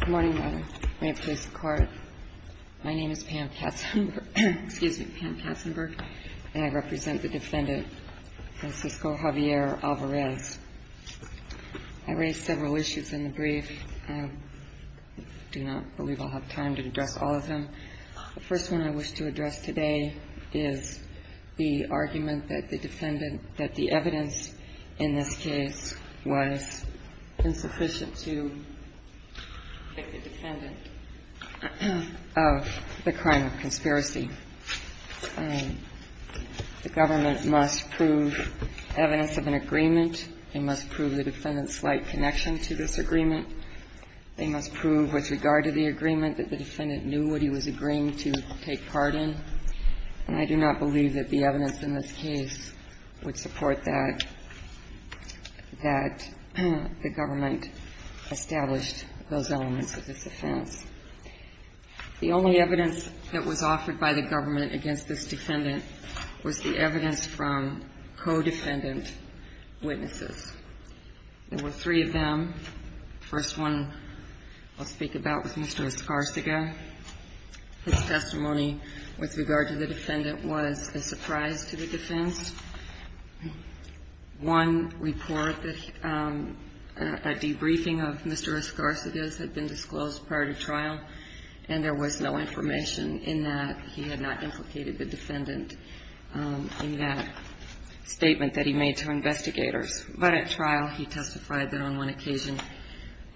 Good morning, Your Honor. May it please the Court. My name is Pam Katzenberg, excuse me, Pam Katzenberg, and I represent the defendant Francisco Javier Alvarez. I raised several issues in the brief. I do not believe I'll have time to address all of them. The first one I wish to address today is the argument that the defendant that the evidence in this case was insufficient to convict the defendant of the crime of conspiracy. The government must prove evidence of an agreement. They must prove the defendant's slight connection to this agreement. They must prove with regard to the agreement that the defendant knew what he was agreeing to take part in. And I do not believe that the evidence in this case would support that, that the government established those elements of this offense. The only evidence that was offered by the government against this defendant was the evidence from co-defendant witnesses. There were three of them. The first one I'll speak about was Mr. Escarciga. His testimony with regard to the defendant was a surprise to the defense. One report that a debriefing of Mr. Escarciga's had been disclosed prior to trial, and there was no information in that.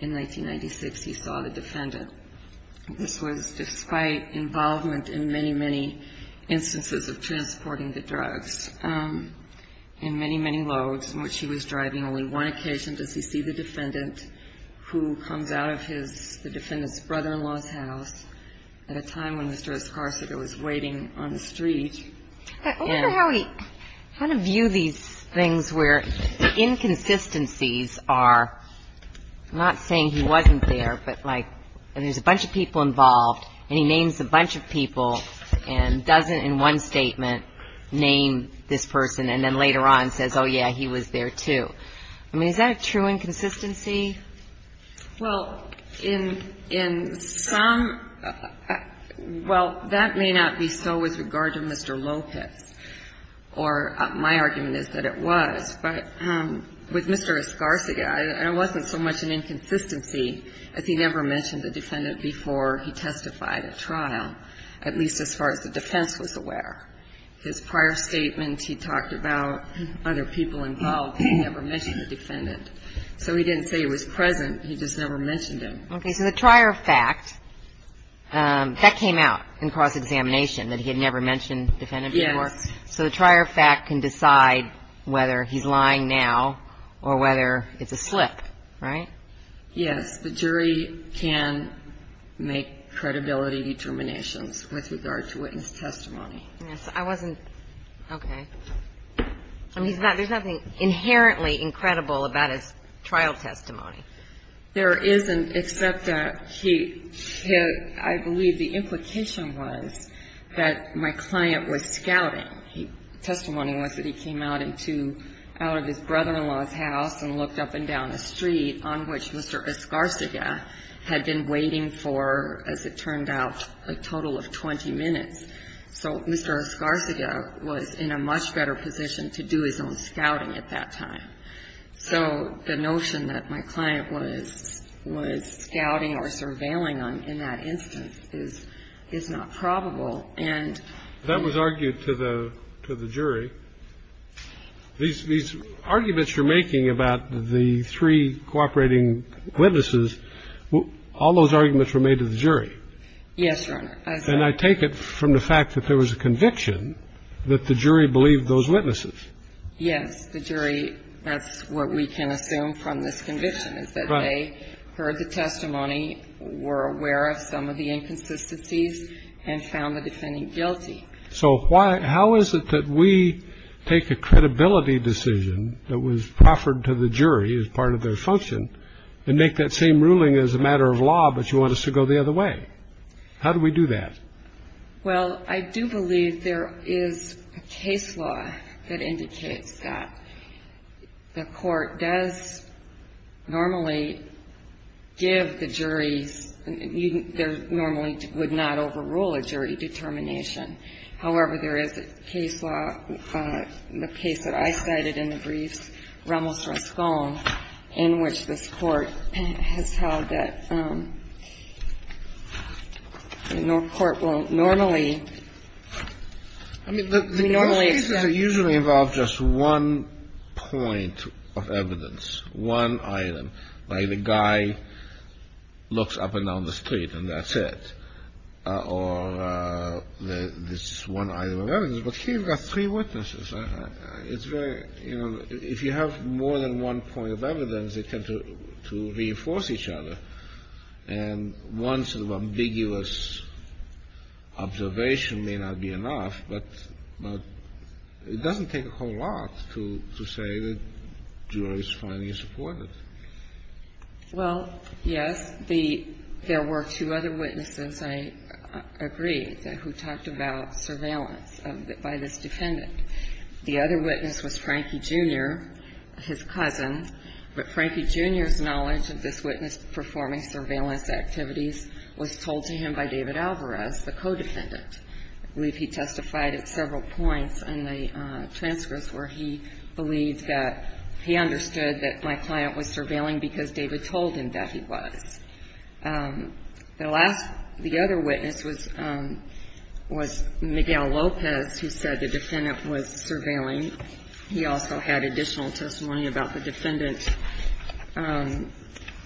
In 1996, he saw the defendant. This was despite involvement in many, many instances of transporting the drugs in many, many loads in which he was driving. Only one occasion does he see the defendant, who comes out of his, the defendant's brother-in-law's house at a time when Mr. Escarciga was waiting on the street. I wonder how he, how to view these things where inconsistencies are, not saying he wasn't there, but like there's a bunch of people involved, and he names a bunch of people, and doesn't in one statement name this person, and then later on says, oh, yeah, he was there, too. I mean, is that a true inconsistency? Well, in, in some, well, that may not be so with regard to Mr. Lopez, or my argument is that it was, but with Mr. Escarciga, there wasn't so much an inconsistency as he never mentioned the defendant before he testified at trial, at least as far as the defense was aware. His prior statement, he talked about other people involved, but he never mentioned the defendant. So he didn't say he was present, he just never mentioned him. Okay. So the trier of fact, that came out in cross-examination, that he had never mentioned the defendant before? Yes. So the trier of fact can decide whether he's lying now or whether it's a slip, right? Yes. The jury can make credibility determinations with regard to witness testimony. I wasn't, okay. I mean, there's nothing inherently incredible about his trial testimony. There isn't, except that he, I believe the implication was that my client was scouting. Testimony was that he came out into, out of his brother-in-law's house and looked up and down a street on which Mr. Ascarciga had been waiting for, as it turned out, a total of 20 minutes. So Mr. Ascarciga was in a much better position to do his own scouting at that time. So the notion that my client was scouting or surveilling in that instance is not probable. That was argued to the jury. These arguments you're making about the three cooperating witnesses, all those arguments were made to the jury. Yes, Your Honor. And I take it from the fact that there was a conviction that the jury believed those witnesses. Yes. The jury, that's what we can assume from this conviction, is that they heard the testimony, were aware of some of the inconsistencies, and found the defendant guilty. So how is it that we take a credibility decision that was proffered to the jury as part of their function and make that same ruling as a matter of law, but you want us to go the other way? How do we do that? Well, I do believe there is a case law that indicates that the court does normally give the juries ñ they normally would not overrule a jury determination. However, there is a case law, the case that I cited in the briefs, Ramos-Rascon, in which this Court has held that the court will normally ñ I mean, the normal cases usually involve just one point of evidence, one item. Like the guy looks up and down the street, and that's it. Or this one item of evidence. But here you've got three witnesses. It's very ñ you know, if you have more than one point of evidence, they tend to reinforce each other. And one sort of ambiguous observation may not be enough, but it doesn't take a whole lot to say that the jury's finally supported. Well, yes. There were two other witnesses, I agree, who talked about surveillance by this defendant. The other witness was Frankie, Jr., his cousin. But Frankie, Jr.'s knowledge of this witness performing surveillance activities was told to him by David Alvarez, the co-defendant. I believe he testified at several points in the transcripts where he believes that he understood that my client was surveilling because David told him that he was. The last ñ the other witness was Miguel Lopez, who said the defendant was surveilling. He also had additional testimony about the defendant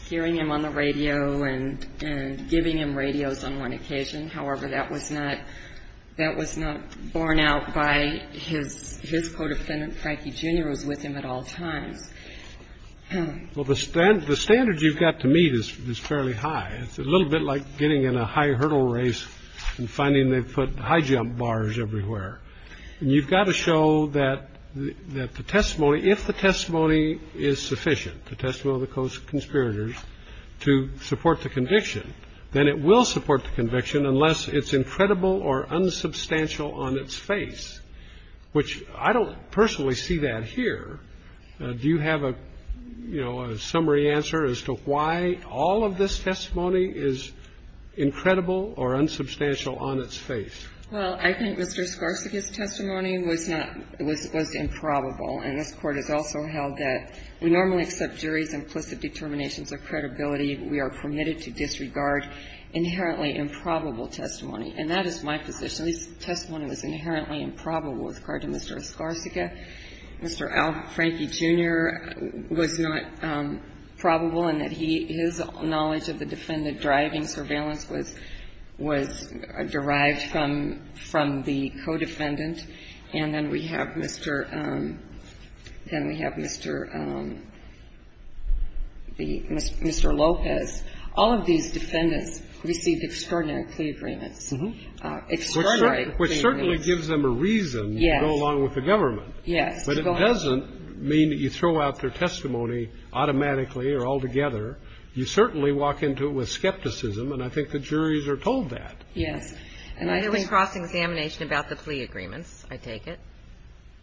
hearing him on the radio and giving him radios on one occasion. However, that was not ñ that was not borne out by his co-defendant. Frankie, Jr. was with him at all times. Well, the standard you've got to meet is fairly high. It's a little bit like getting in a high hurdle race and finding they've put high jump bars everywhere. And you've got to show that the testimony ñ if the testimony is sufficient, the testimony of the co-conspirators, to support the conviction, then it will support the conviction unless it's incredible or unsubstantial on its face, which I don't personally see that here. Do you have a, you know, a summary answer as to why all of this testimony is incredible or unsubstantial on its face? Well, I think Mr. Skarsgård's testimony was not ñ was ñ was improbable. And this Court has also held that we normally accept juries' implicit determinations of credibility. We are permitted to disregard inherently improbable testimony. And that is my position. This testimony was inherently improbable with regard to Mr. Skarsgård. Mr. Frankie, Jr. was not probable in that he ñ his knowledge of the defendant driving surveillance was ñ was derived from ñ from the co-defendant. And then we have Mr. ñ then we have Mr. ñ the ñ Mr. Lopez. All of these defendants received extraordinary plea agreements. Extraordinary plea agreements. Which certainly gives them a reason to go along with the government. Yes. But it doesn't mean that you throw out their testimony automatically or altogether. You certainly walk into it with skepticism, and I think the juries are told that. Yes. And there was cross-examination about the plea agreements, I take it?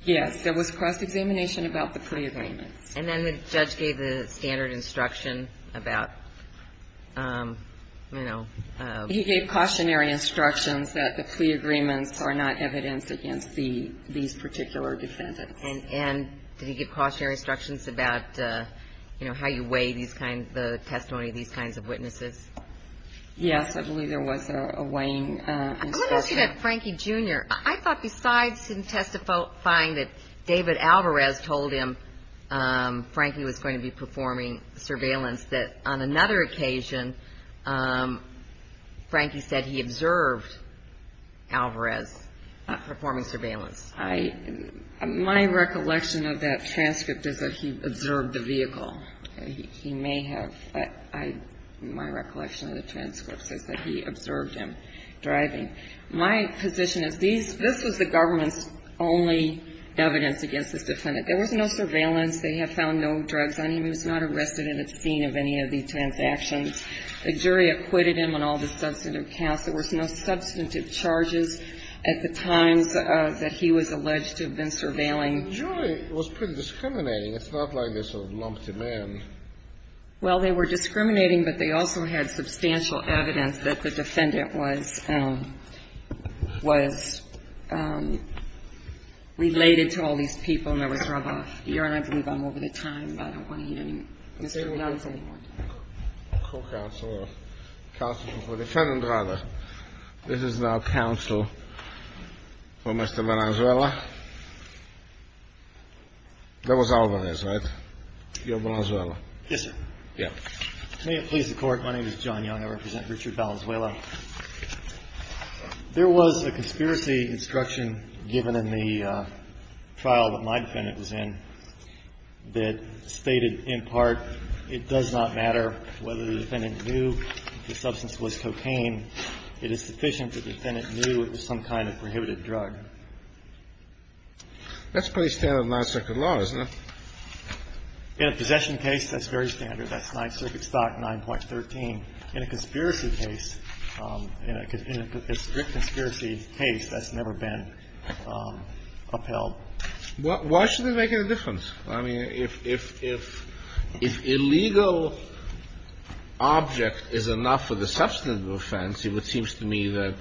Yes. There was cross-examination about the plea agreements. And then the judge gave the standard instruction about, you know ñ He gave cautionary instructions that the plea agreements are not evidence against the ñ these particular defendants. And ñ and did he give cautionary instructions about, you know, how you weigh these kinds ñ the testimony of these kinds of witnesses? Yes. I believe there was a weighing instruction. I want to ask you about Frankie, Jr. I thought besides him testifying that David Alvarez told him Frankie was going to be performing surveillance, that on another occasion Frankie said he observed Alvarez performing surveillance. I ñ my recollection of that transcript is that he observed the vehicle. He may have ñ I ñ my recollection of the transcript says that he observed him driving. My position is these ñ this was the government's only evidence against this defendant. There was no surveillance. They have found no drugs on him. He was not arrested in the scene of any of these transactions. The jury acquitted him on all the substantive counts. There was no substantive charges at the times that he was alleged to have been surveilling. The jury was pretty discriminating. It's not like they sort of lumped him in. Well, they were discriminating, but they also had substantial evidence that the defendant was ñ was related to all these people. And there was rub-off. Your Honor, I believe I'm over the time, but I don't want to hear any more. Mr. Alvarez, any more? Co-counselor. Counselor for the defendant, rather. This is now counsel for Mr. Valenzuela. That was Alvarez, right? You're Valenzuela. Yes, sir. May it please the Court. My name is John Young. I represent Richard Valenzuela. There was a conspiracy instruction given in the trial that my defendant was in that stated, in part, it does not matter whether the defendant knew the substance was cocaine. It is sufficient that the defendant knew it was some kind of prohibited drug. That's pretty standard in non-circuit law, isn't it? In a possession case, that's very standard. That's non-circuit stock 9.13. In a conspiracy case, in a strict conspiracy case, that's never been upheld. Why should it make any difference? I mean, if illegal object is enough for the substantive offense, it seems to me that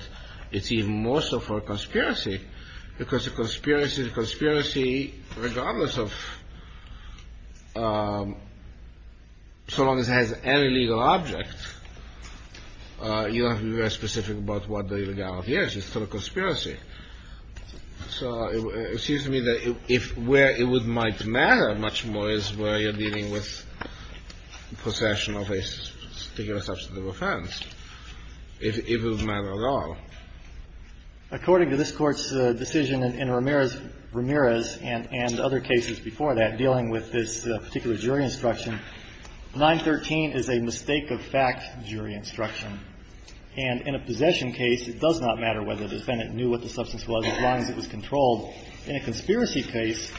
it's even more so for a conspiracy. Because a conspiracy is a conspiracy regardless of so long as it has any legal object. You don't have to be very specific about what the illegality is. It's still a conspiracy. So it seems to me that where it might matter much more is where you're dealing with possession of a particular substantive offense. It doesn't matter at all. According to this Court's decision in Ramirez and other cases before that dealing with this particular jury instruction, 9.13 is a mistake-of-fact jury instruction. And in a possession case, it does not matter whether the defendant knew what the substance was as long as it was controlled. In a conspiracy case,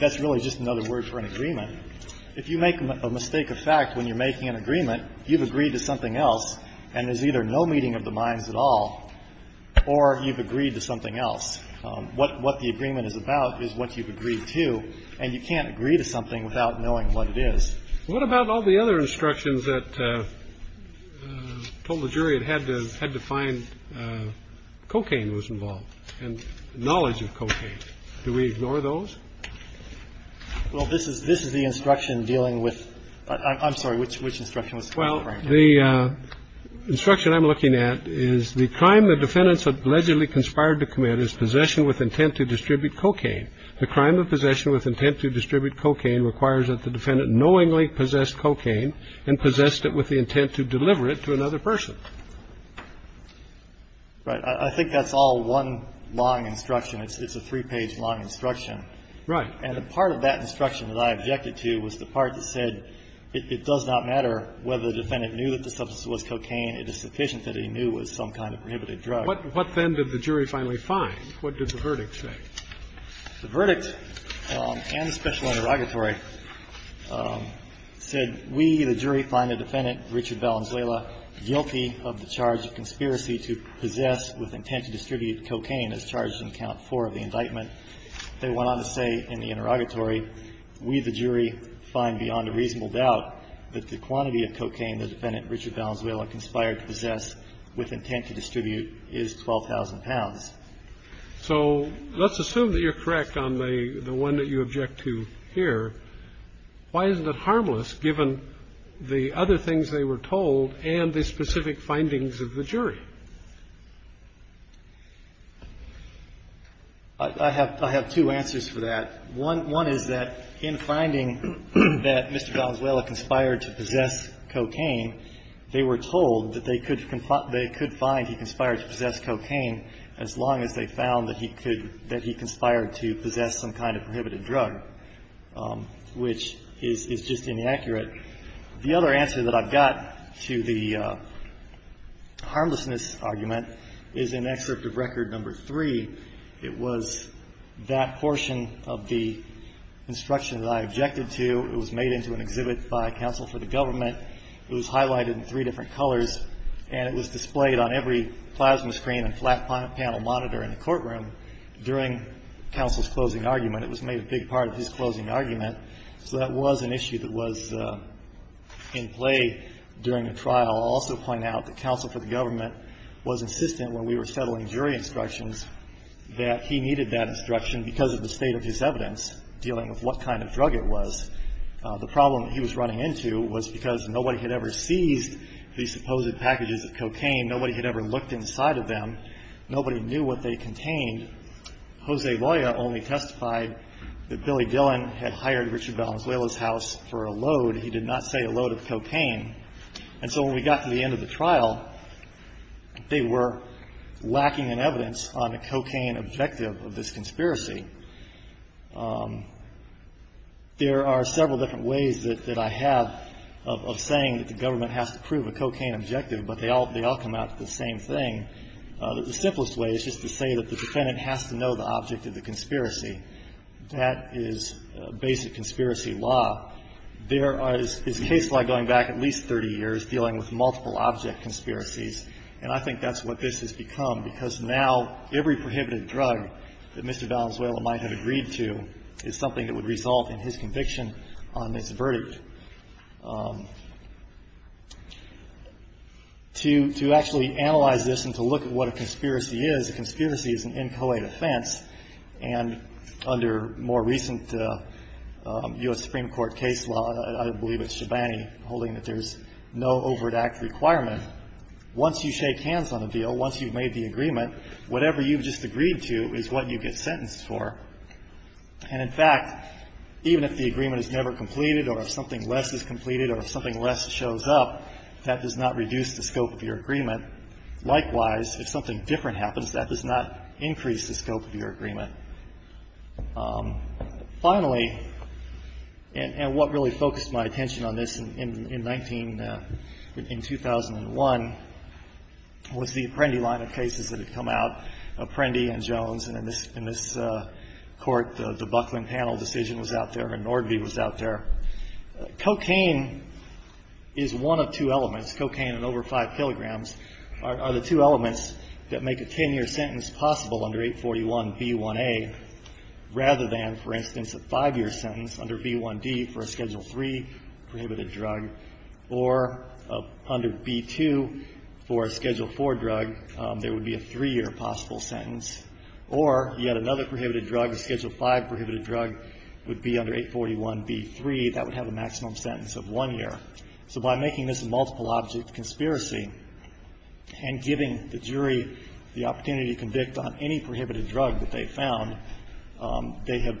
that's really just another word for an agreement. If you make a mistake-of-fact when you're making an agreement, you've agreed to something else, and there's either no meeting of the minds at all or you've agreed to something else. What the agreement is about is what you've agreed to, and you can't agree to something without knowing what it is. What about all the other instructions that told the jury it had to find cocaine was involved and knowledge of cocaine? Do we ignore those? Well, this is the instruction dealing with – I'm sorry, which instruction was to be ignored? The instruction I'm looking at is the crime the defendant allegedly conspired to commit is possession with intent to distribute cocaine. The crime of possession with intent to distribute cocaine requires that the defendant knowingly possessed cocaine and possessed it with the intent to deliver it to another person. Right. I think that's all one long instruction. It's a three-page long instruction. Right. And the part of that instruction that I objected to was the part that said it does not matter whether the defendant knew that the substance was cocaine, it is sufficient that he knew it was some kind of prohibited drug. What then did the jury finally find? What did the verdict say? The verdict and the special interrogatory said we, the jury, find the defendant, Richard Valenzuela, guilty of the charge of conspiracy to possess with intent to distribute cocaine as charged in count four of the indictment. They went on to say in the interrogatory, we, the jury, find beyond a reasonable doubt that the quantity of cocaine the defendant, Richard Valenzuela, conspired to possess with intent to distribute is 12,000 pounds. So let's assume that you're correct on the one that you object to here. Why isn't it harmless given the other things they were told and the specific findings of the jury? I have two answers for that. One is that in finding that Mr. Valenzuela conspired to possess cocaine, they were told that they could find he conspired to possess cocaine as long as they found that he conspired to possess some kind of prohibited drug, which is just inaccurate. The other answer that I've got to the harmlessness argument is in Excerpt of Record No. 3, it was that portion of the instruction that I objected to. It was made into an exhibit by counsel for the government. It was highlighted in three different colors. And it was displayed on every plasma screen and flat panel monitor in the courtroom during counsel's closing argument. It was made a big part of his closing argument. So that was an issue that was in play during the trial. I'll also point out that counsel for the government was insistent when we were settling jury instructions that he needed that instruction because of the state of his evidence dealing with what kind of drug it was. The problem he was running into was because nobody had ever seized these supposed packages of cocaine. Nobody had ever looked inside of them. Nobody knew what they contained. Jose Loya only testified that Billy Dillon had hired Richard Valenzuela's house for a load. He did not say a load of cocaine. And so when we got to the end of the trial, they were lacking in evidence on a cocaine objective of this conspiracy. There are several different ways that I have of saying that the government has to prove a cocaine objective, but they all come out the same thing. The simplest way is just to say that the defendant has to know the object of the conspiracy. That is basic conspiracy law. There is case law going back at least 30 years dealing with multiple object conspiracies, and I think that's what this has become because now every prohibited drug that Mr. Valenzuela might have agreed to is something that would result in his conviction on this verdict. To actually analyze this and to look at what a conspiracy is, a conspiracy is an inchoate and under more recent U.S. Supreme Court case law, I believe it's Shabani holding that there's no overt act requirement. Once you shake hands on a deal, once you've made the agreement, whatever you've just agreed to is what you get sentenced for. And, in fact, even if the agreement is never completed or if something less is completed or if something less shows up, that does not reduce the scope of your agreement. Likewise, if something different happens, that does not increase the scope of your agreement. Finally, and what really focused my attention on this in 19 — in 2001 was the Apprendi line of cases that had come out, Apprendi and Jones. And in this Court, the Buckland panel decision was out there and Nordby was out there. Cocaine is one of two elements. Cocaine and over 5 kilograms are the two elements that make a 10-year sentence possible under 841B1A rather than, for instance, a 5-year sentence under B1D for a Schedule III prohibited drug or under B2 for a Schedule IV drug, there would be a 3-year possible sentence. Or yet another prohibited drug, a Schedule V prohibited drug, would be under 841B3. That would have a maximum sentence of 1 year. So by making this a multiple object conspiracy and giving the jury the opportunity to convict on any prohibited drug that they found, they have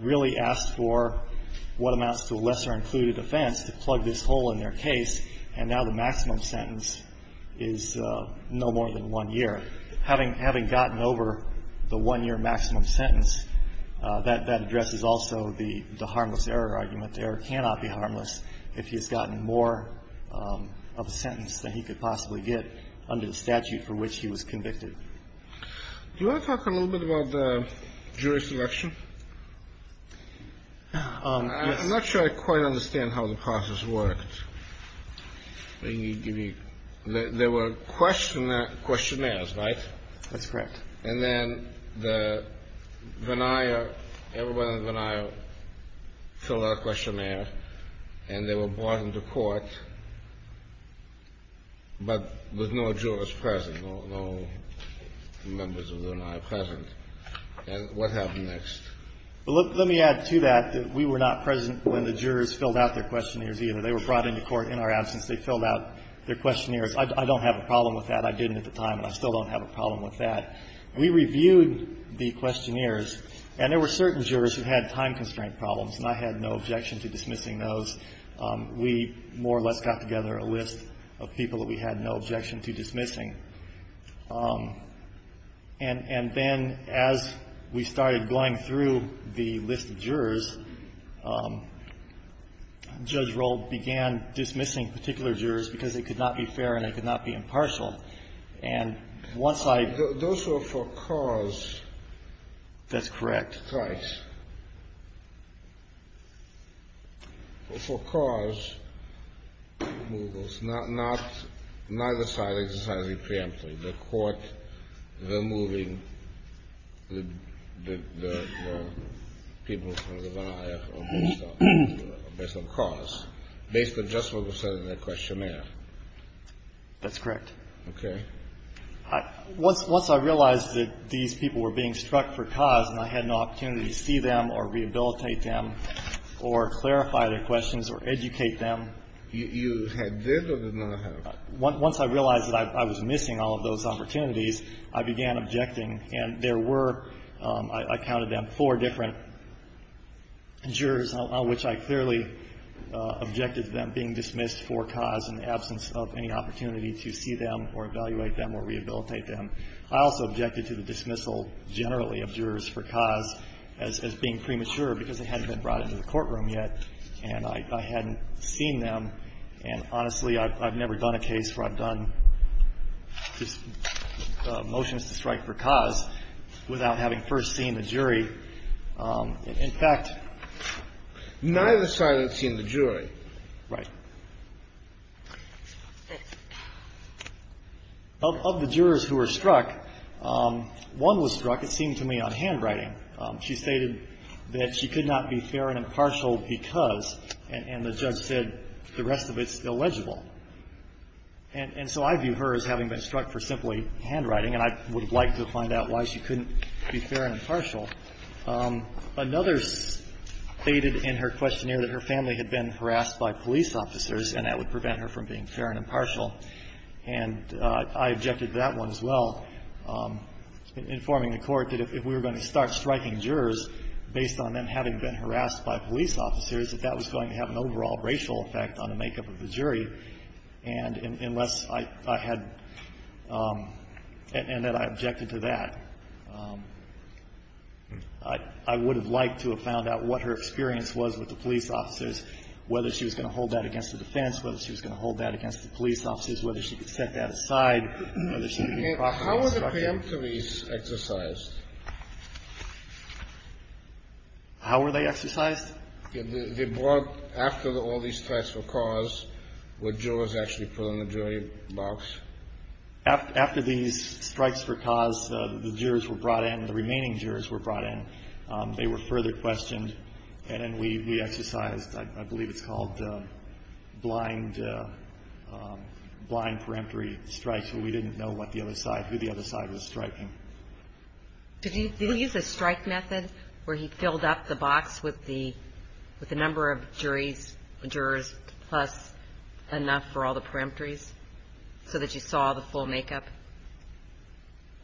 really asked for what amounts to a lesser-included offense to plug this hole in their case. And now the maximum sentence is no more than 1 year. Having gotten over the 1-year maximum sentence, that addresses also the harmless error argument. Error cannot be harmless if he has gotten more of a sentence than he could possibly get under the statute for which he was convicted. Do you want to talk a little bit about the jury selection? I'm not sure I quite understand how the process worked. There were questionnaires, right? That's correct. And then the venire, everyone in the venire, filled out a questionnaire, and they were brought into court. But with no jurors present, no members of the venire present. And what happened next? Let me add to that that we were not present when the jurors filled out their questionnaires either. They were brought into court in our absence. They filled out their questionnaires. I don't have a problem with that. I didn't at the time, and I still don't have a problem with that. We reviewed the questionnaires, and there were certain jurors who had time-constraint problems, and I had no objection to dismissing those. We more or less got together a list of people that we had no objection to dismissing. And then as we started going through the list of jurors, Judge Rold began dismissing particular jurors because it could not be fair and it could not be impartial. Those were for cause. That's correct. For cause, neither side exercised a preemptive. The court removing the people from the venire based on cause, based on just what was said in the questionnaire. That's correct. Okay. Once I realized that these people were being struck for cause and I had no opportunity to see them or rehabilitate them or clarify their questions or educate them. You had this or did not have it? Once I realized that I was missing all of those opportunities, I began objecting, and there were, I counted them, four different jurors on which I clearly objected to them being dismissed for cause in the absence of any opportunity to see them or evaluate them or rehabilitate them. I also objected to the dismissal generally of jurors for cause as being premature because they hadn't been brought into the courtroom yet and I hadn't seen them. And honestly, I've never done a case where I've done motions to strike for cause without having first seen the jury. In fact. Neither have I seen the jury. Right. Of the jurors who were struck, one was struck, it seemed to me, on handwriting. She stated that she could not be fair and impartial because, and the judge said, the rest of it's illegible. And so I view her as having been struck for simply handwriting, and I would like to find out why she couldn't be fair and impartial. Another stated in her questionnaire that her family had been harassed by police officers and that would prevent her from being fair and impartial. And I objected to that one as well, informing the Court that if we were going to start striking jurors based on them having been harassed by police officers, that that was going to have an overall racial effect on the makeup of the jury. And unless I had — and that I objected to that, I would have liked to have found out what her experience was with the police officers, whether she was going to hold that against the defense, whether she was going to hold that against the police officers, whether she could set that aside, whether she could be caught by the structure. How were the paramilitaries exercised? How were they exercised? They brought — after all these strikes were caused, were jurors actually put in the jury box? After these strikes were caused, the jurors were brought in, the remaining jurors were brought in. They were further questioned, and then we exercised, I believe it's called blind — blind peremptory strikes, where we didn't know what the other side — who the other side was striking. Did he — did he use a strike method where he filled up the box with the — with the number of juries — jurors plus enough for all the peremptories so that you saw the full makeup?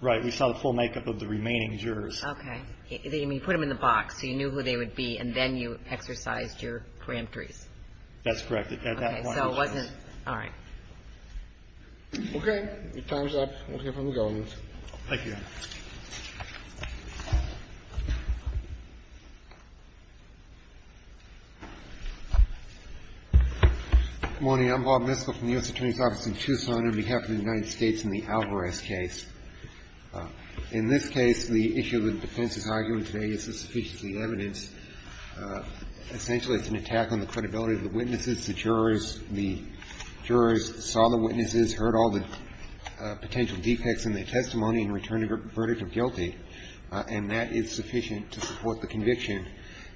Right. We saw the full makeup of the remaining jurors. Okay. I mean, you put them in the box, so you knew who they would be, and then you exercised your peremptories. That's correct. At that point, yes. Okay. So it wasn't — all right. Okay. Your time's up. We'll hear from the government. Thank you, Your Honor. Good morning. I'm Bob Miskell from the U.S. Attorney's Office in Tucson on behalf of the United States in the Alvarez case. In this case, the issue that the defense is arguing today isn't sufficiently evidenced. Essentially, it's an attack on the credibility of the witnesses. The jurors — the jurors saw the witnesses, heard all the potential defects in the testimony and returned a verdict of guilty, and that is sufficient to support the conviction.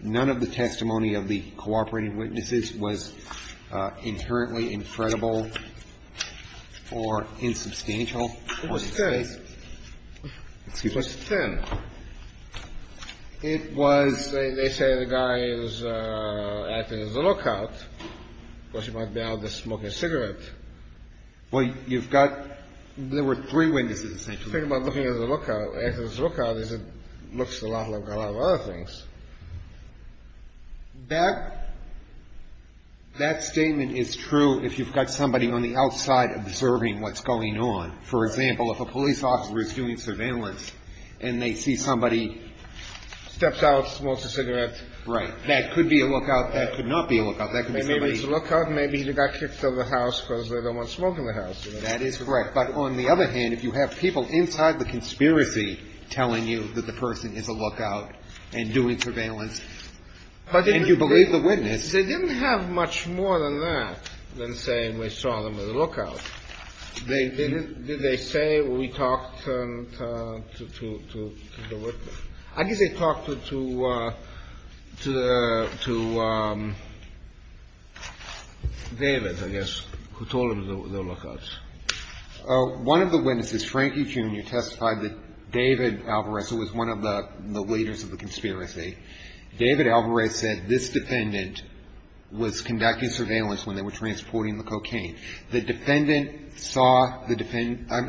None of the testimony of the cooperating witnesses was inherently infredible or insubstantial for this case. It was 10. Excuse me? It was 10. It was — they say the guy is at his lookout. Of course, he might be out there smoking a cigarette. Well, you've got — there were three witnesses, essentially. Think about looking at the lookout. As his lookout is, it looks a lot like a lot of other things. That — that statement is true if you've got somebody on the outside observing what's going on. For example, if a police officer is doing surveillance and they see somebody — Steps out, smokes a cigarette. Right. That could be a lookout. That could not be a lookout. That could be somebody — If he's a lookout, maybe he got kicked out of the house because they don't want smoke in the house. That is correct. But on the other hand, if you have people inside the conspiracy telling you that the person is a lookout and doing surveillance, and you believe the witness — They didn't have much more than that than saying we saw them at the lookout. They didn't — Did they say, we talked to the witness? I guess they talked to — to David, I guess, who told them they were the lookouts. One of the witnesses, Frankie Jr., testified that David Alvarez, who was one of the leaders of the conspiracy, David Alvarez said this defendant was conducting surveillance when they were transporting the cocaine. The defendant saw the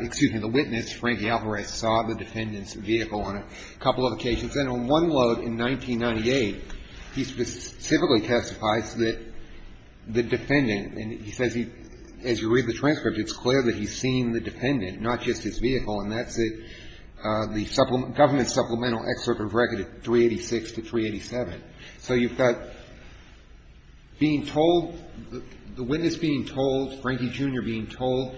— excuse me, the witness, Frankie Alvarez, saw the defendant's vehicle on a couple of occasions, and on one load in 1998, he specifically testifies that the defendant — and he says he — as you read the transcript, it's clear that he's seen the defendant, not just his vehicle, and that's the government supplemental excerpt of record 386 to 387. So you've got being told — the witness being told, Frankie Jr. being told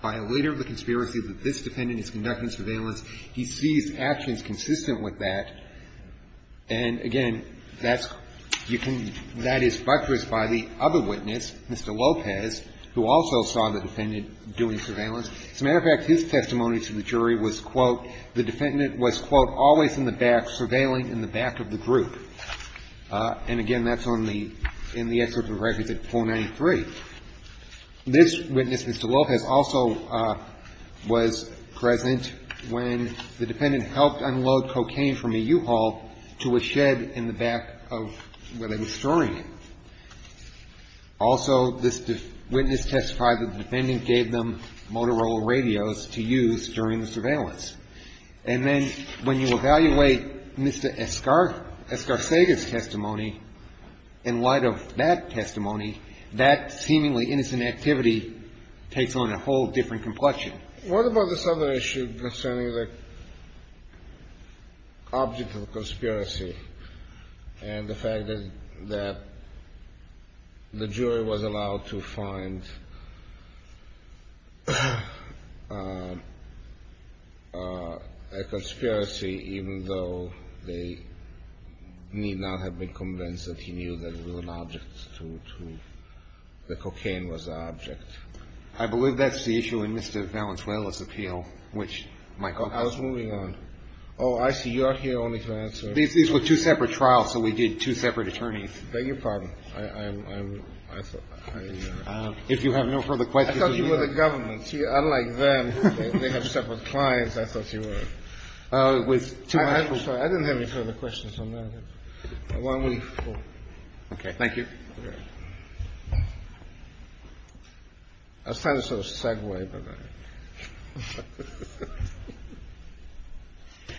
by a leader of the conspiracy that this defendant is conducting surveillance, he sees actions consistent with that. And again, that's — you can — that is buttressed by the other witness, Mr. Lopez, who also saw the defendant doing surveillance. As a matter of fact, his testimony to the jury was, quote, the defendant was, quote, always in the back surveilling in the back of the group. And again, that's on the — in the excerpt of record 493. This witness, Mr. Lopez, also was present when the defendant helped unload cocaine from a U-Haul to a shed in the back of where they were storing it. Also, this witness testified that the defendant gave them Motorola radios to use during the surveillance. And then when you evaluate Mr. Escarcega's testimony in light of that testimony, that seemingly innocent activity takes on a whole different complexion. What about this other issue concerning the object of the conspiracy and the fact that the jury was allowed to find a conspiracy, even though they need not have been convinced that he knew that it was an object to — that cocaine was an object? I believe that's the issue in Mr. Valenzuela's appeal, which Michael — I was moving on. Oh, I see. You are here only to answer — These were two separate trials, so we did two separate attorneys. I beg your pardon. I'm — I thought — If you have no further questions — I thought you were the government. Unlike them, they have separate clients. I thought you were — I'm sorry. I didn't have any further questions on that. Why don't we — Okay. Thank you. I was trying to sort of segue, but I —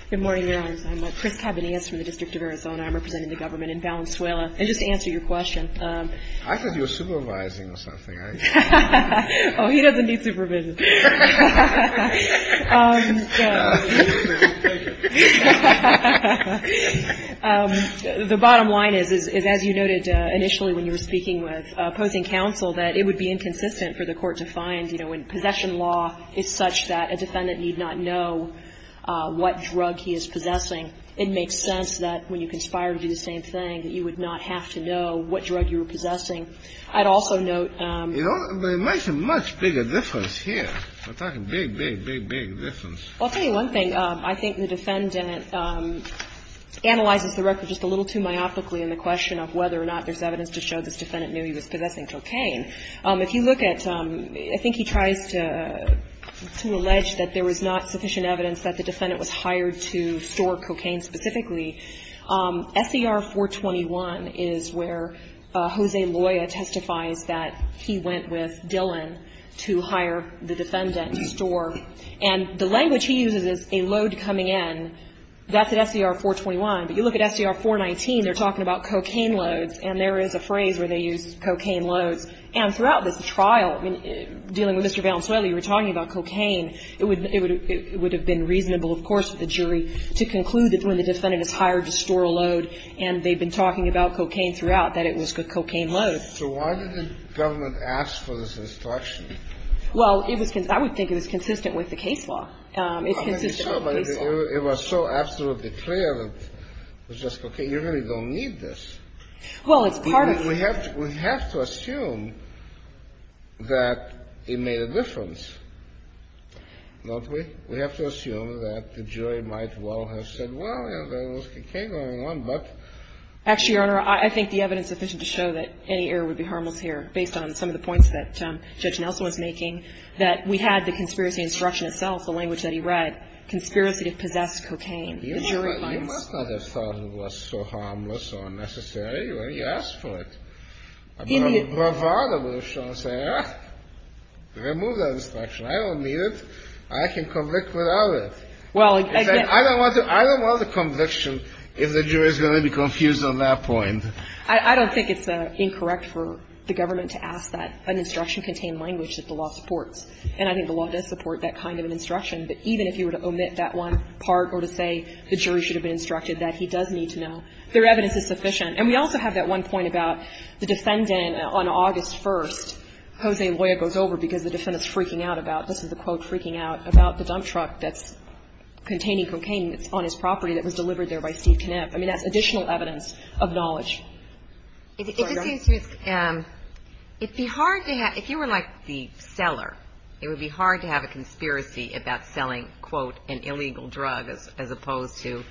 Good morning, Your Honors. I'm Chris Cabanillas from the District of Arizona. I'm representing the government in Valenzuela. And just to answer your question — I thought you were supervising or something. Oh, he doesn't need supervision. The bottom line is, as you noted initially when you were speaking with opposing counsel, that it would be inconsistent for the court to find, you know, when possession law is such that a defendant need not know what drug he is possessing, it makes sense that when you conspire to do the same thing, that you would not have to know what drug you were possessing. I'd also note — I'm talking big, big, big, big difference. Well, I'll tell you one thing. I think the defendant analyzes the record just a little too myopically in the question of whether or not there's evidence to show this defendant knew he was possessing cocaine. If you look at — I think he tries to allege that there was not sufficient evidence that the defendant was hired to store cocaine specifically. SER 421 is where Jose Loya testifies that he went with Dillon to hire the defendant to store. And the language he uses is a load coming in. That's at SER 421. But you look at SER 419. They're talking about cocaine loads. And there is a phrase where they use cocaine loads. And throughout this trial, dealing with Mr. Valenzuela, you were talking about cocaine. It would have been reasonable, of course, for the jury to conclude that when the defendant is hired to store a load, and they've been talking about cocaine throughout, that it was cocaine loads. So why did the government ask for this instruction? Well, it was — I would think it was consistent with the case law. It's consistent with the case law. It was so absolutely clear that it was just cocaine. You really don't need this. Well, it's part of the — We have to assume that it made a difference, don't we? We have to assume that the jury might well have said, well, there was cocaine going on, but — Actually, Your Honor, I think the evidence sufficient to show that any error would be harmless here, based on some of the points that Judge Nelson was making, that we had the conspiracy instruction itself, the language that he read, conspiracy to possess cocaine. The jury finds — You must not have thought it was so harmless or unnecessary when he asked for it. A bravado would have shown, say, remove that instruction. I don't need it. I can convict without it. Well, again — I don't want the conviction if the jury is going to be confused on that point. I don't think it's incorrect for the government to ask that an instruction contain language that the law supports. And I think the law does support that kind of an instruction. But even if you were to omit that one part or to say the jury should have been instructed that, he does need to know. Their evidence is sufficient. And we also have that one point about the defendant on August 1st. Jose Loya goes over because the defendant is freaking out about, this is the quote freaking out, about the dump truck that's containing cocaine that's on his property that was delivered there by Steve Knapp. I mean, that's additional evidence of knowledge. I'm sorry. It would be hard to have — if you were like the seller, it would be hard to have a conspiracy about selling, quote, an illegal drug as opposed to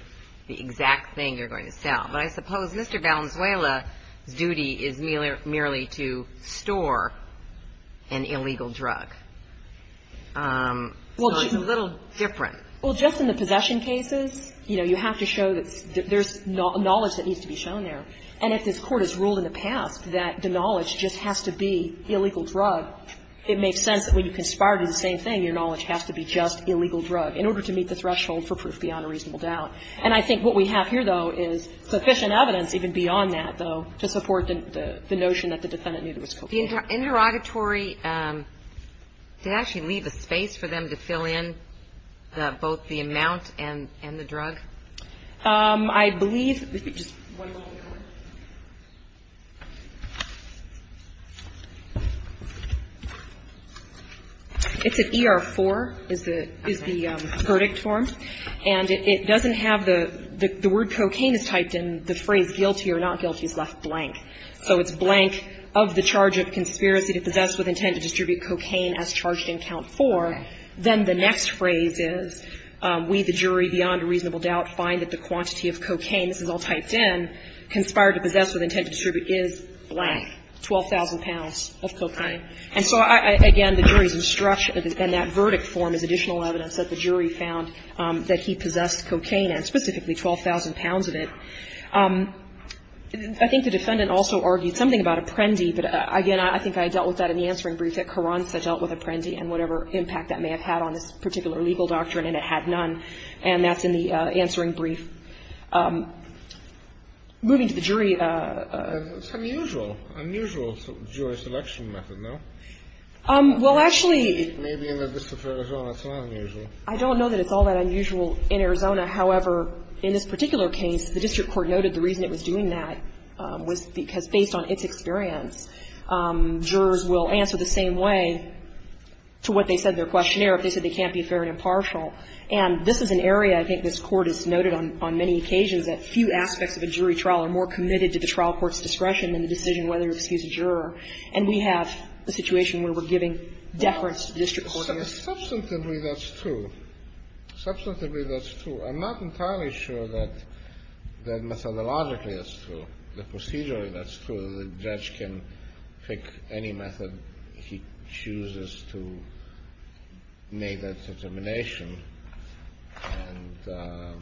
the exact thing you're going to sell. But I suppose Mr. Valenzuela's duty is merely to store an illegal drug. So it's a little different. Well, just in the possession cases, you know, you have to show that there's knowledge that needs to be shown there. And if this Court has ruled in the past that the knowledge just has to be illegal drug, it makes sense that when you conspire to do the same thing, your knowledge has to be just illegal drug in order to meet the threshold for proof beyond a reasonable doubt. And I think what we have here, though, is sufficient evidence even beyond that, though, to support the notion that the defendant knew there was cocaine. The interrogatory, did it actually leave a space for them to fill in both the amount and the drug? I believe — Just one moment. It's an ER-4, is the verdict form. And it doesn't have the — the word cocaine is typed in. The phrase guilty or not guilty is left blank. So it's blank, of the charge of conspiracy to possess with intent to distribute cocaine as charged in count 4. Then the next phrase is, we, the jury, beyond a reasonable doubt, find that the quantity of cocaine, this is all typed in, conspired to possess with intent to distribute is blank, 12,000 pounds of cocaine. And so, again, the jury's instruction, and that verdict form is additional evidence that the jury found that he possessed cocaine, and specifically 12,000 pounds of it. I think the defendant also argued something about Apprendi. But, again, I think I dealt with that in the answering brief. At Carranza, I dealt with Apprendi and whatever impact that may have had on this particular legal doctrine, and it had none. And that's in the answering brief. Moving to the jury — It's unusual. Unusual, Jewish election method, no? Well, actually — Maybe in the District of Arizona, it's not unusual. I don't know that it's all that unusual in Arizona. However, in this particular case, the district court noted the reason it was doing that was because, based on its experience, jurors will answer the same way to what they said in their questionnaire if they said they can't be fair and impartial. And this is an area, I think this Court has noted on many occasions, that few aspects of a jury trial are more committed to the trial court's discretion than the decision whether to excuse a juror. And we have a situation where we're giving deference to the district court. Substantively, that's true. Substantively, that's true. I'm not entirely sure that methodologically that's true, that procedurally that's true, that a judge can pick any method he chooses to make that determination and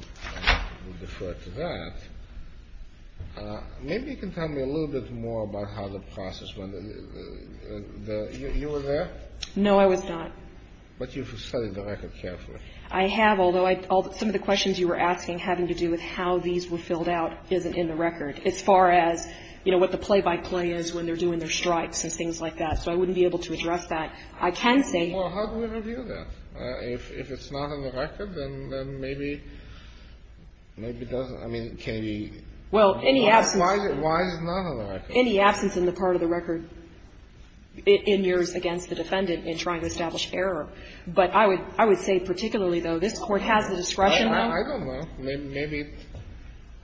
defer to that. Maybe you can tell me a little bit more about how the process went. You were there? No, I was not. But you've studied the record carefully. I have, although some of the questions you were asking having to do with how these were filled out isn't in the record, as far as, you know, what the play-by-play is when they're doing their strikes and things like that. So I wouldn't be able to address that. I can say you can. Well, how do we review that? If it's not in the record, then maybe, maybe it doesn't. I mean, can you? Well, any absence. Why is it not on the record? Any absence in the part of the record in yours against the defendant in trying to establish error. But I would say particularly, though, this Court has the discretion. I don't know. Maybe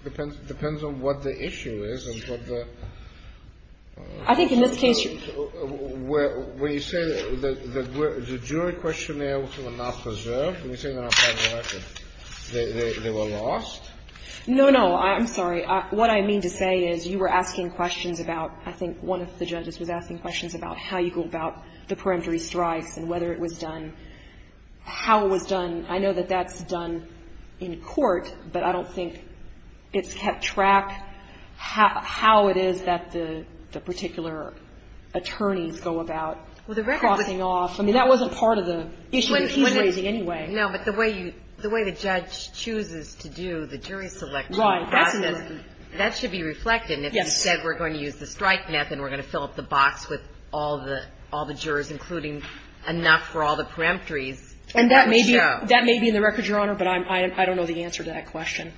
it depends on what the issue is and what the ---- I think in this case you're ---- When you say that the jury questionnaires were not preserved, when you say they're not part of the record, they were lost? No, no. I'm sorry. What I mean to say is you were asking questions about, I think one of the judges was asking questions about how you go about the peremptory strikes and whether it was done, how it was done. I know that that's done in court, but I don't think it's kept track how it is that the particular attorneys go about crossing off. I mean, that wasn't part of the issue that he's raising anyway. No, but the way you ---- the way the judge chooses to do the jury selection process, that should be reflected. Yes. And if he said we're going to use the strike method, we're going to fill up the box with all the jurors, including enough for all the peremptories. And that may be in the record, Your Honor, but I don't know the answer to that question.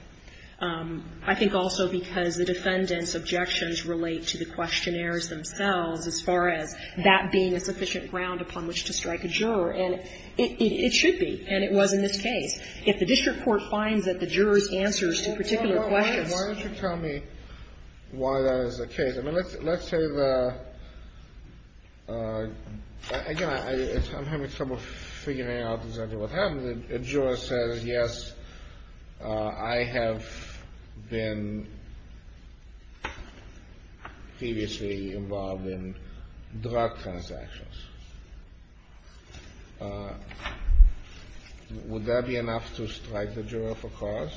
I think also because the defendant's objections relate to the questionnaires themselves as far as that being a sufficient ground upon which to strike a juror. And it should be, and it was in this case. If the district court finds that the jurors' answers to particular questions ---- Why don't you tell me why that is the case? I mean, let's say the ---- again, I'm having trouble figuring out exactly what happened. The juror says, yes, I have been previously involved in drug transactions. Would that be enough to strike the juror for cause?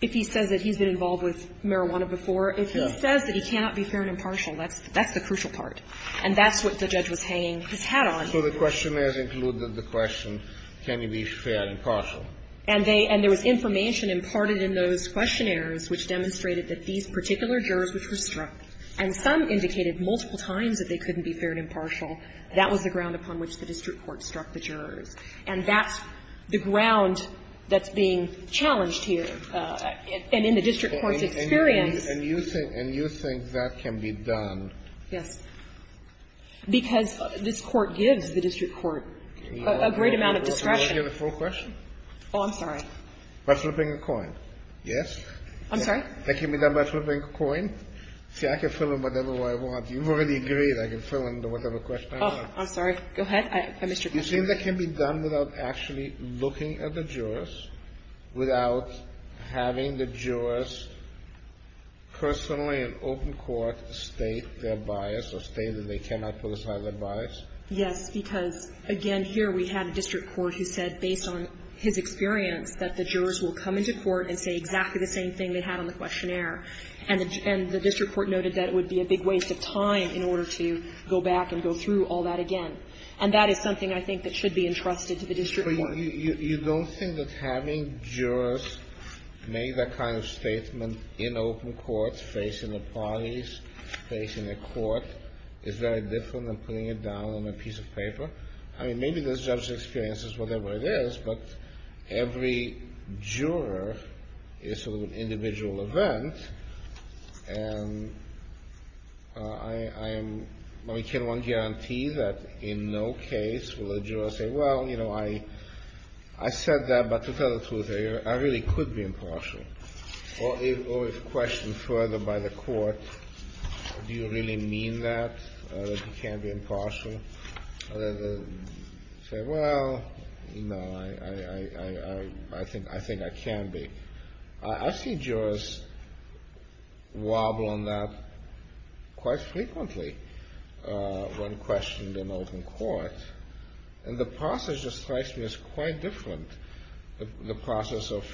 If he says that he's been involved with marijuana before, if he says that he cannot be fair and impartial, that's the crucial part. And that's what the judge was hanging his hat on. So the questionnaires included the question, can he be fair and impartial? And they ---- and there was information imparted in those questionnaires which demonstrated that these particular jurors which were struck, and some indicated multiple times that they couldn't be fair and impartial, that was the ground upon which the district court struck the jurors. And that's the ground that's being challenged here. And in the district court's experience ---- And you think that can be done? Yes. Because this Court gives the district court a great amount of discretion. May I get a full question? Oh, I'm sorry. By flipping a coin, yes? I'm sorry? That can be done by flipping a coin? See, I can fill in whatever way I want. You've already agreed I can fill in whatever question I want. Oh, I'm sorry. Go ahead. I missed your question. You think that can be done without actually looking at the jurors, without having the jurors personally in open court state their bias or state that they cannot put aside their bias? Yes. Because, again, here we had a district court who said, based on his experience, that the jurors will come into court and say exactly the same thing they had on the questionnaire. And the district court noted that it would be a big waste of time in order to go back and go through all that again. And that is something I think that should be entrusted to the district court. But you don't think that having jurors make that kind of statement in open court facing the parties, facing the court, is very different than putting it down on a piece of paper? I mean, maybe there's judge's experiences, whatever it is, but every juror is sort of an individual event. And I can only guarantee that in no case will a juror say, well, you know, I said that, but to tell the truth, I really could be impartial. Or if questioned further by the court, do you really mean that, that you can't be impartial? Say, well, no, I think I can be. I've seen jurors wobble on that quite frequently when questioned in open court. And the process strikes me as quite different, the process of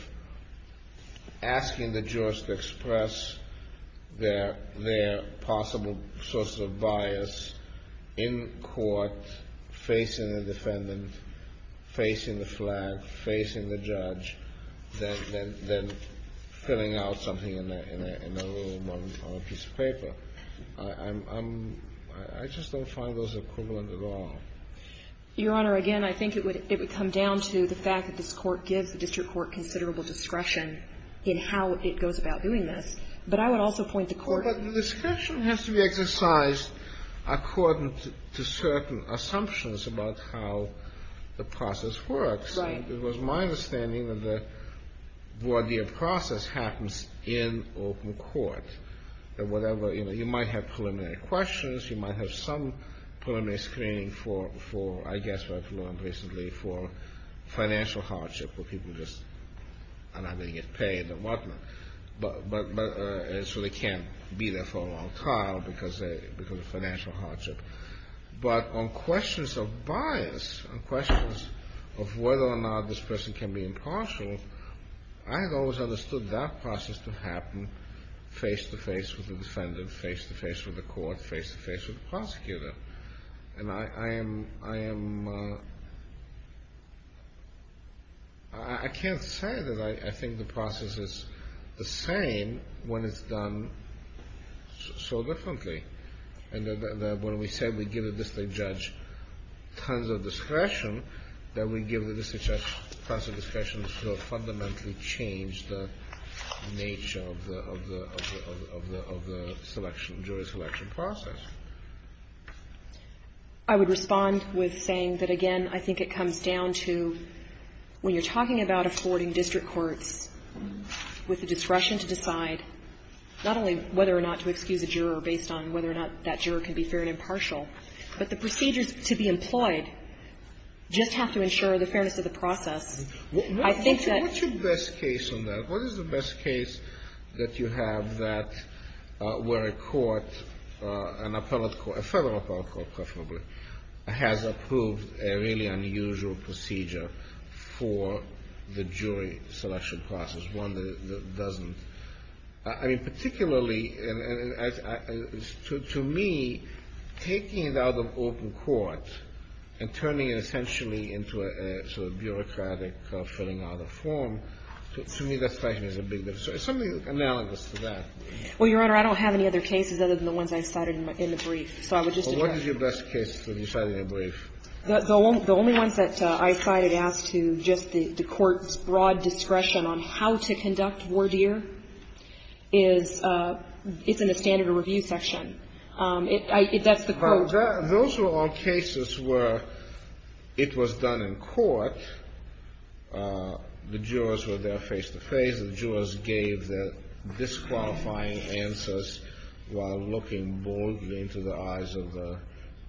asking the jurors to express their possible sources of bias in court, facing the defendant, facing the flag, facing the judge, than filling out something in a little piece of paper. I just don't find those equivalent at all. Your Honor, again, I think it would come down to the fact that this Court gives the district court considerable discretion in how it goes about doing this. But I would also point to court... But the discretion has to be exercised according to certain assumptions about how the process works. Right. It was my understanding that the voir dire process happens in open court. That whatever, you know, you might have preliminary questions, you might have some preliminary screening for, I guess what I've learned recently, for financial hardship where people just are not going to get paid or whatnot. So they can't be there for a long time because of financial hardship. But on questions of bias, on questions of whether or not this person can be impartial, I had always understood that process to happen face to face with the defendant, face to face with the court, face to face with the prosecutor. And I am... I can't say that I think the process is the same when it's done so differently. And when we say we give the district judge tons of discretion, that we give the district judge tons of discretion to fundamentally change the nature of the jury selection process. I would respond with saying that, again, I think it comes down to when you're talking about affording district courts with the discretion to decide not only whether or not to excuse a juror based on whether or not that juror can be fair and impartial, but the procedures to be employed just have to ensure the fairness of the process. I think that... a federal appellate court, preferably, has approved a really unusual procedure for the jury selection process, one that doesn't. I mean, particularly, to me, taking it out of open court and turning it essentially into a sort of bureaucratic filling out of form, to me, that's a big difference. It's something analogous to that. Well, Your Honor, I don't have any other cases other than the ones I cited in the brief. So I would just address... Well, what is your best case that you cited in the brief? The only ones that I cited as to just the court's broad discretion on how to conduct voir dire is in the standard review section. That's the quote. Those were all cases where it was done in court. The jurors were there face to face. The case of the jurors gave the disqualifying answers while looking boldly into the eyes of the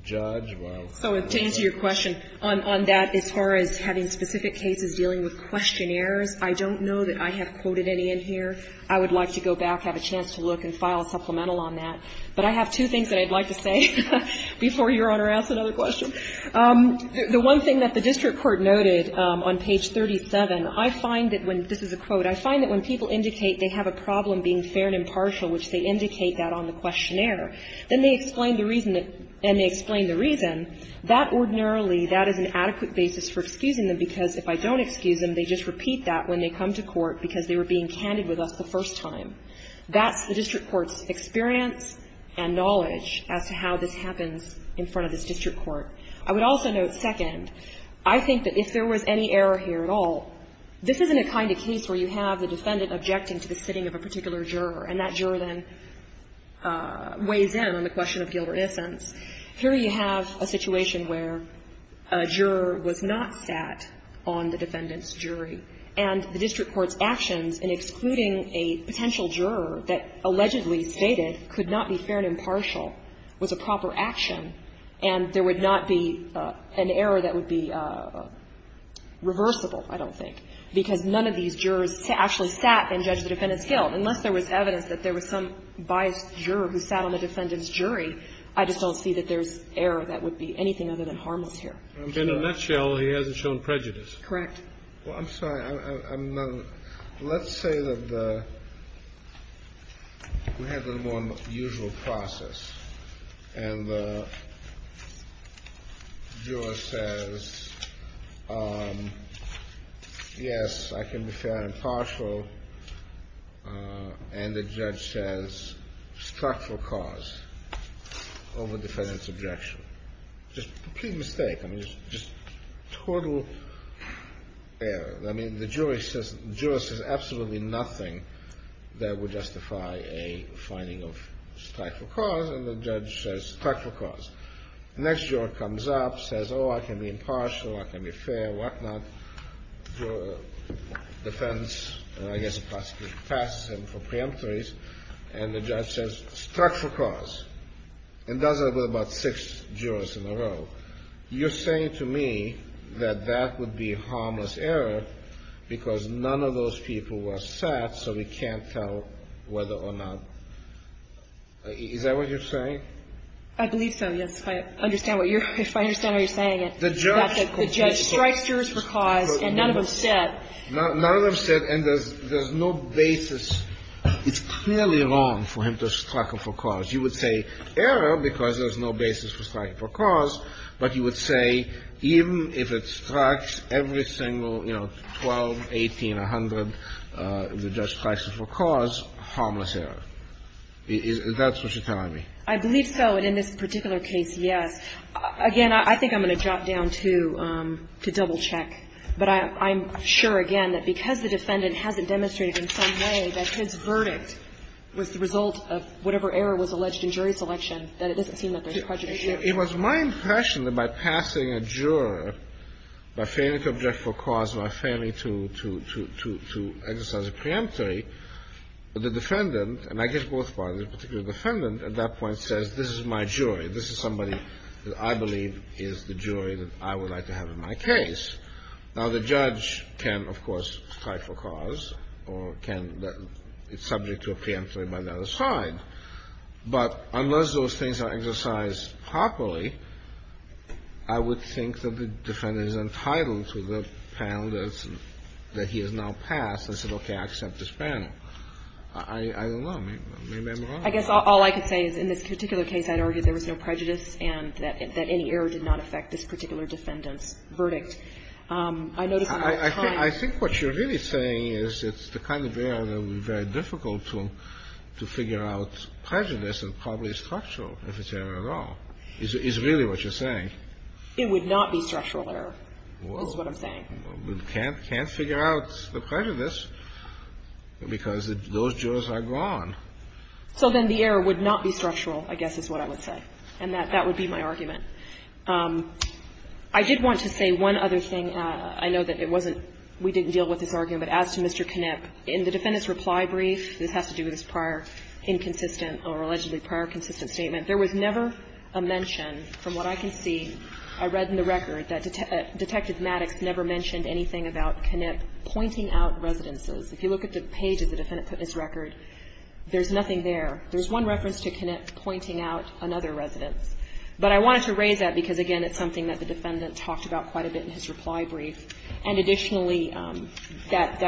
judge, while... So to answer your question, on that, as far as having specific cases dealing with questionnaires, I don't know that I have quoted any in here. I would like to go back, have a chance to look and file a supplemental on that. But I have two things that I'd like to say before Your Honor asks another question. The one thing that the district court noted on page 37, I find that when this is a quote, but I find that when people indicate they have a problem being fair and impartial, which they indicate that on the questionnaire, then they explain the reason that and they explain the reason, that ordinarily, that is an adequate basis for excusing them, because if I don't excuse them, they just repeat that when they come to court because they were being candid with us the first time. That's the district court's experience and knowledge as to how this happens in front of this district court. I would also note, second, I think that if there was any error here at all, this isn't the kind of case where you have the defendant objecting to the sitting of a particular juror, and that juror then weighs in on the question of gilder essence. Here you have a situation where a juror was not sat on the defendant's jury, and the district court's actions in excluding a potential juror that allegedly stated could not be fair and impartial was a proper action, and there would not be an error that would be reversible, I don't think, because none of these jurors actually sat and judged the defendant's guilt, unless there was evidence that there was some biased juror who sat on the defendant's jury, I just don't see that there's error that would be anything other than harmless here. Kennedy. In a nutshell, he hasn't shown prejudice. Correct. Well, I'm sorry. Let's say that we have the more usual process, and the juror says, yes, I can be fair and impartial, and the judge says structural cause over defendant's objection. Just a complete mistake. I mean, just total error. I mean, the juror says absolutely nothing that would justify a finding of structural cause, and the judge says structural cause. The next juror comes up, says, oh, I can be impartial, I can be fair, whatnot. The defense, I guess, passes him for preemptories, and the judge says structural cause, and does it with about six jurors in a row. You're saying to me that that would be harmless error because none of those people were sat, so we can't tell whether or not – is that what you're saying? I believe so, yes, if I understand what you're – if I understand what you're saying, that the judge strikes jurors for cause and none of them sit. None of them sit, and there's no basis. It's clearly wrong for him to strike them for cause. You would say error because there's no basis for striking for cause, but you would say even if it strikes every single, you know, 12, 18, 100, the judge strikes them for cause, harmless error. Is that what you're telling me? I believe so, and in this particular case, yes. Again, I think I'm going to drop down to double-check, but I'm sure again that because the defendant hasn't demonstrated in some way that his verdict was the result of whatever error was alleged in jury selection, that it doesn't seem that there's prejudice here. It was my impression that by passing a juror, by failing to object for cause, by failing to exercise a preemptory, the defendant, and I guess both parties, the particular defendant at that point says this is my jury, this is somebody that I believe is the jury that I would like to have in my case. Now, the judge can, of course, strike for cause or can be subject to a preemptory by the other side, but unless those things are exercised properly, I would think that the defendant is entitled to the panel that he has now passed and said, okay, I accept this panel. I don't know. Maybe I'm wrong. I guess all I could say is in this particular case, I'd argue there was no prejudice and that any error did not affect this particular defendant's verdict. I noticed at that time the kind of error that would be very difficult to figure out prejudice and probably structural, if it's error at all, is really what you're saying. It would not be structural error, is what I'm saying. Well, we can't figure out the prejudice because those jurors are gone. So then the error would not be structural, I guess is what I would say, and that would be my argument. I did want to say one other thing. I know that it wasn't we didn't deal with this argument, but as to Mr. Knipp, in the defendant's reply brief, this has to do with his prior inconsistent or allegedly prior consistent statement, there was never a mention, from what I can see, I read in the record, that Detective Maddox never mentioned anything about Knipp pointing out residences. If you look at the page of the defendant's record, there's nothing there. There's one reference to Knipp pointing out another residence. But I wanted to raise that because, again, it's something that the defendant talked about quite a bit in his reply brief. And additionally, that,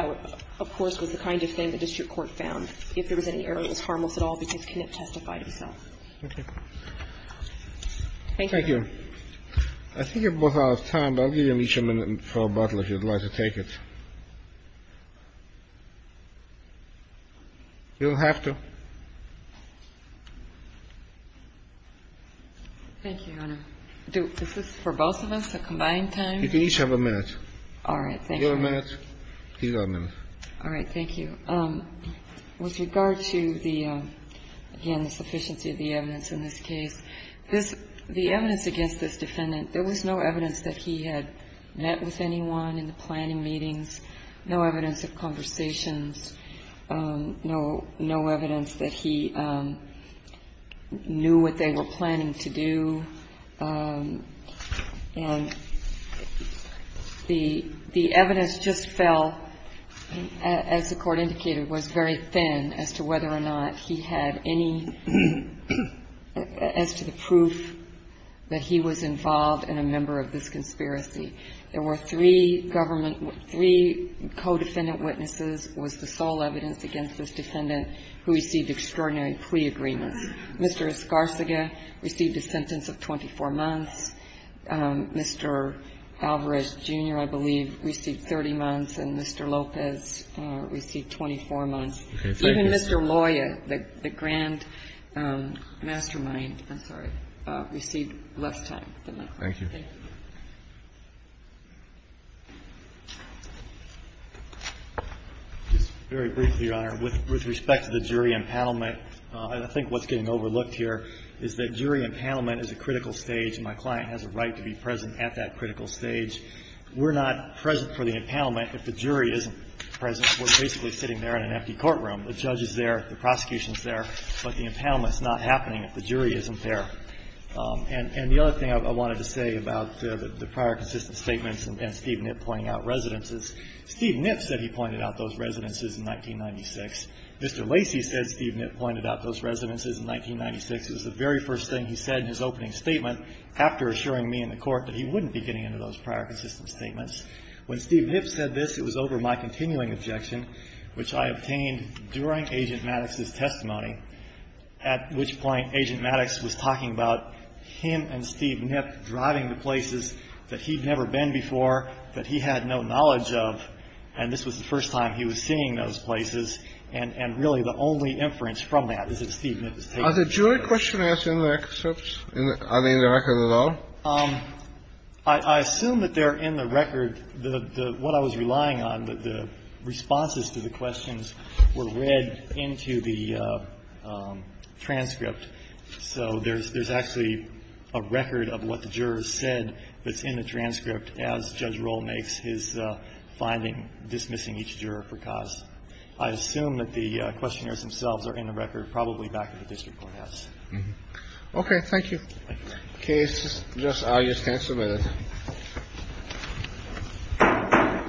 of course, was the kind of thing the district court found. If there was any error, it was harmless at all because Knipp testified himself. Thank you. I think we're both out of time, but I'll give you each a minute for a bottle if you'd like to take it. You don't have to. Thank you, Your Honor. Is this for both of us, a combined time? You can each have a minute. All right. Thank you. You have a minute. He's got a minute. All right. Thank you. With regard to the, again, the sufficiency of the evidence in this case, the evidence against this defendant, there was no evidence that he had met with anyone in the planning meetings, no evidence of conversations, no evidence that he knew what they were planning to do. And the evidence just fell, as the Court indicated, was very thin as to whether or not he had any as to the proof that he was involved in a member of this conspiracy. There were three government, three co-defendant witnesses was the sole evidence against this defendant who received extraordinary plea agreements. Mr. Escarcega received a sentence of 24 months. Mr. Alvarez, Jr., I believe, received 30 months, and Mr. Lopez received 24 months. Even Mr. Loya, the grand mastermind, I'm sorry, received less time than that. Thank you. Just very briefly, Your Honor. With respect to the jury empanelment, I think what's getting overlooked here is that jury empanelment is a critical stage, and my client has a right to be present at that critical stage. We're not present for the empanelment if the jury isn't present. We're basically sitting there in an empty courtroom. The judge is there. The prosecution is there. But the empanelment is not happening if the jury isn't there. And the other thing I wanted to say about the prior consistent statements and Steve Knipp pointing out residences, Steve Knipp said he pointed out those residences in 1996. Mr. Lacey said Steve Knipp pointed out those residences in 1996. It was the very first thing he said in his opening statement after assuring me in the Court that he wouldn't be getting into those prior consistent statements. When Steve Knipp said this, it was over my continuing objection, which I obtained during Agent Maddox's testimony, at which point Agent Maddox was talking about him and Steve Knipp driving to places that he'd never been before, that he had no knowledge of. And this was the first time he was seeing those places. And really the only inference from that is that Steve Knipp was taking those places. Are the jury questions in the records? Are they in the record at all? I assume that they're in the record. What I was relying on, the responses to the questions were read into the transcript. So there's actually a record of what the jurors said that's in the transcript as Judge Rohl makes his finding dismissing each juror for cause. I assume that the questionnaires themselves are in the record, probably back at the district courthouse. Okay. Thank you. Okay. It's just I just can't submit it.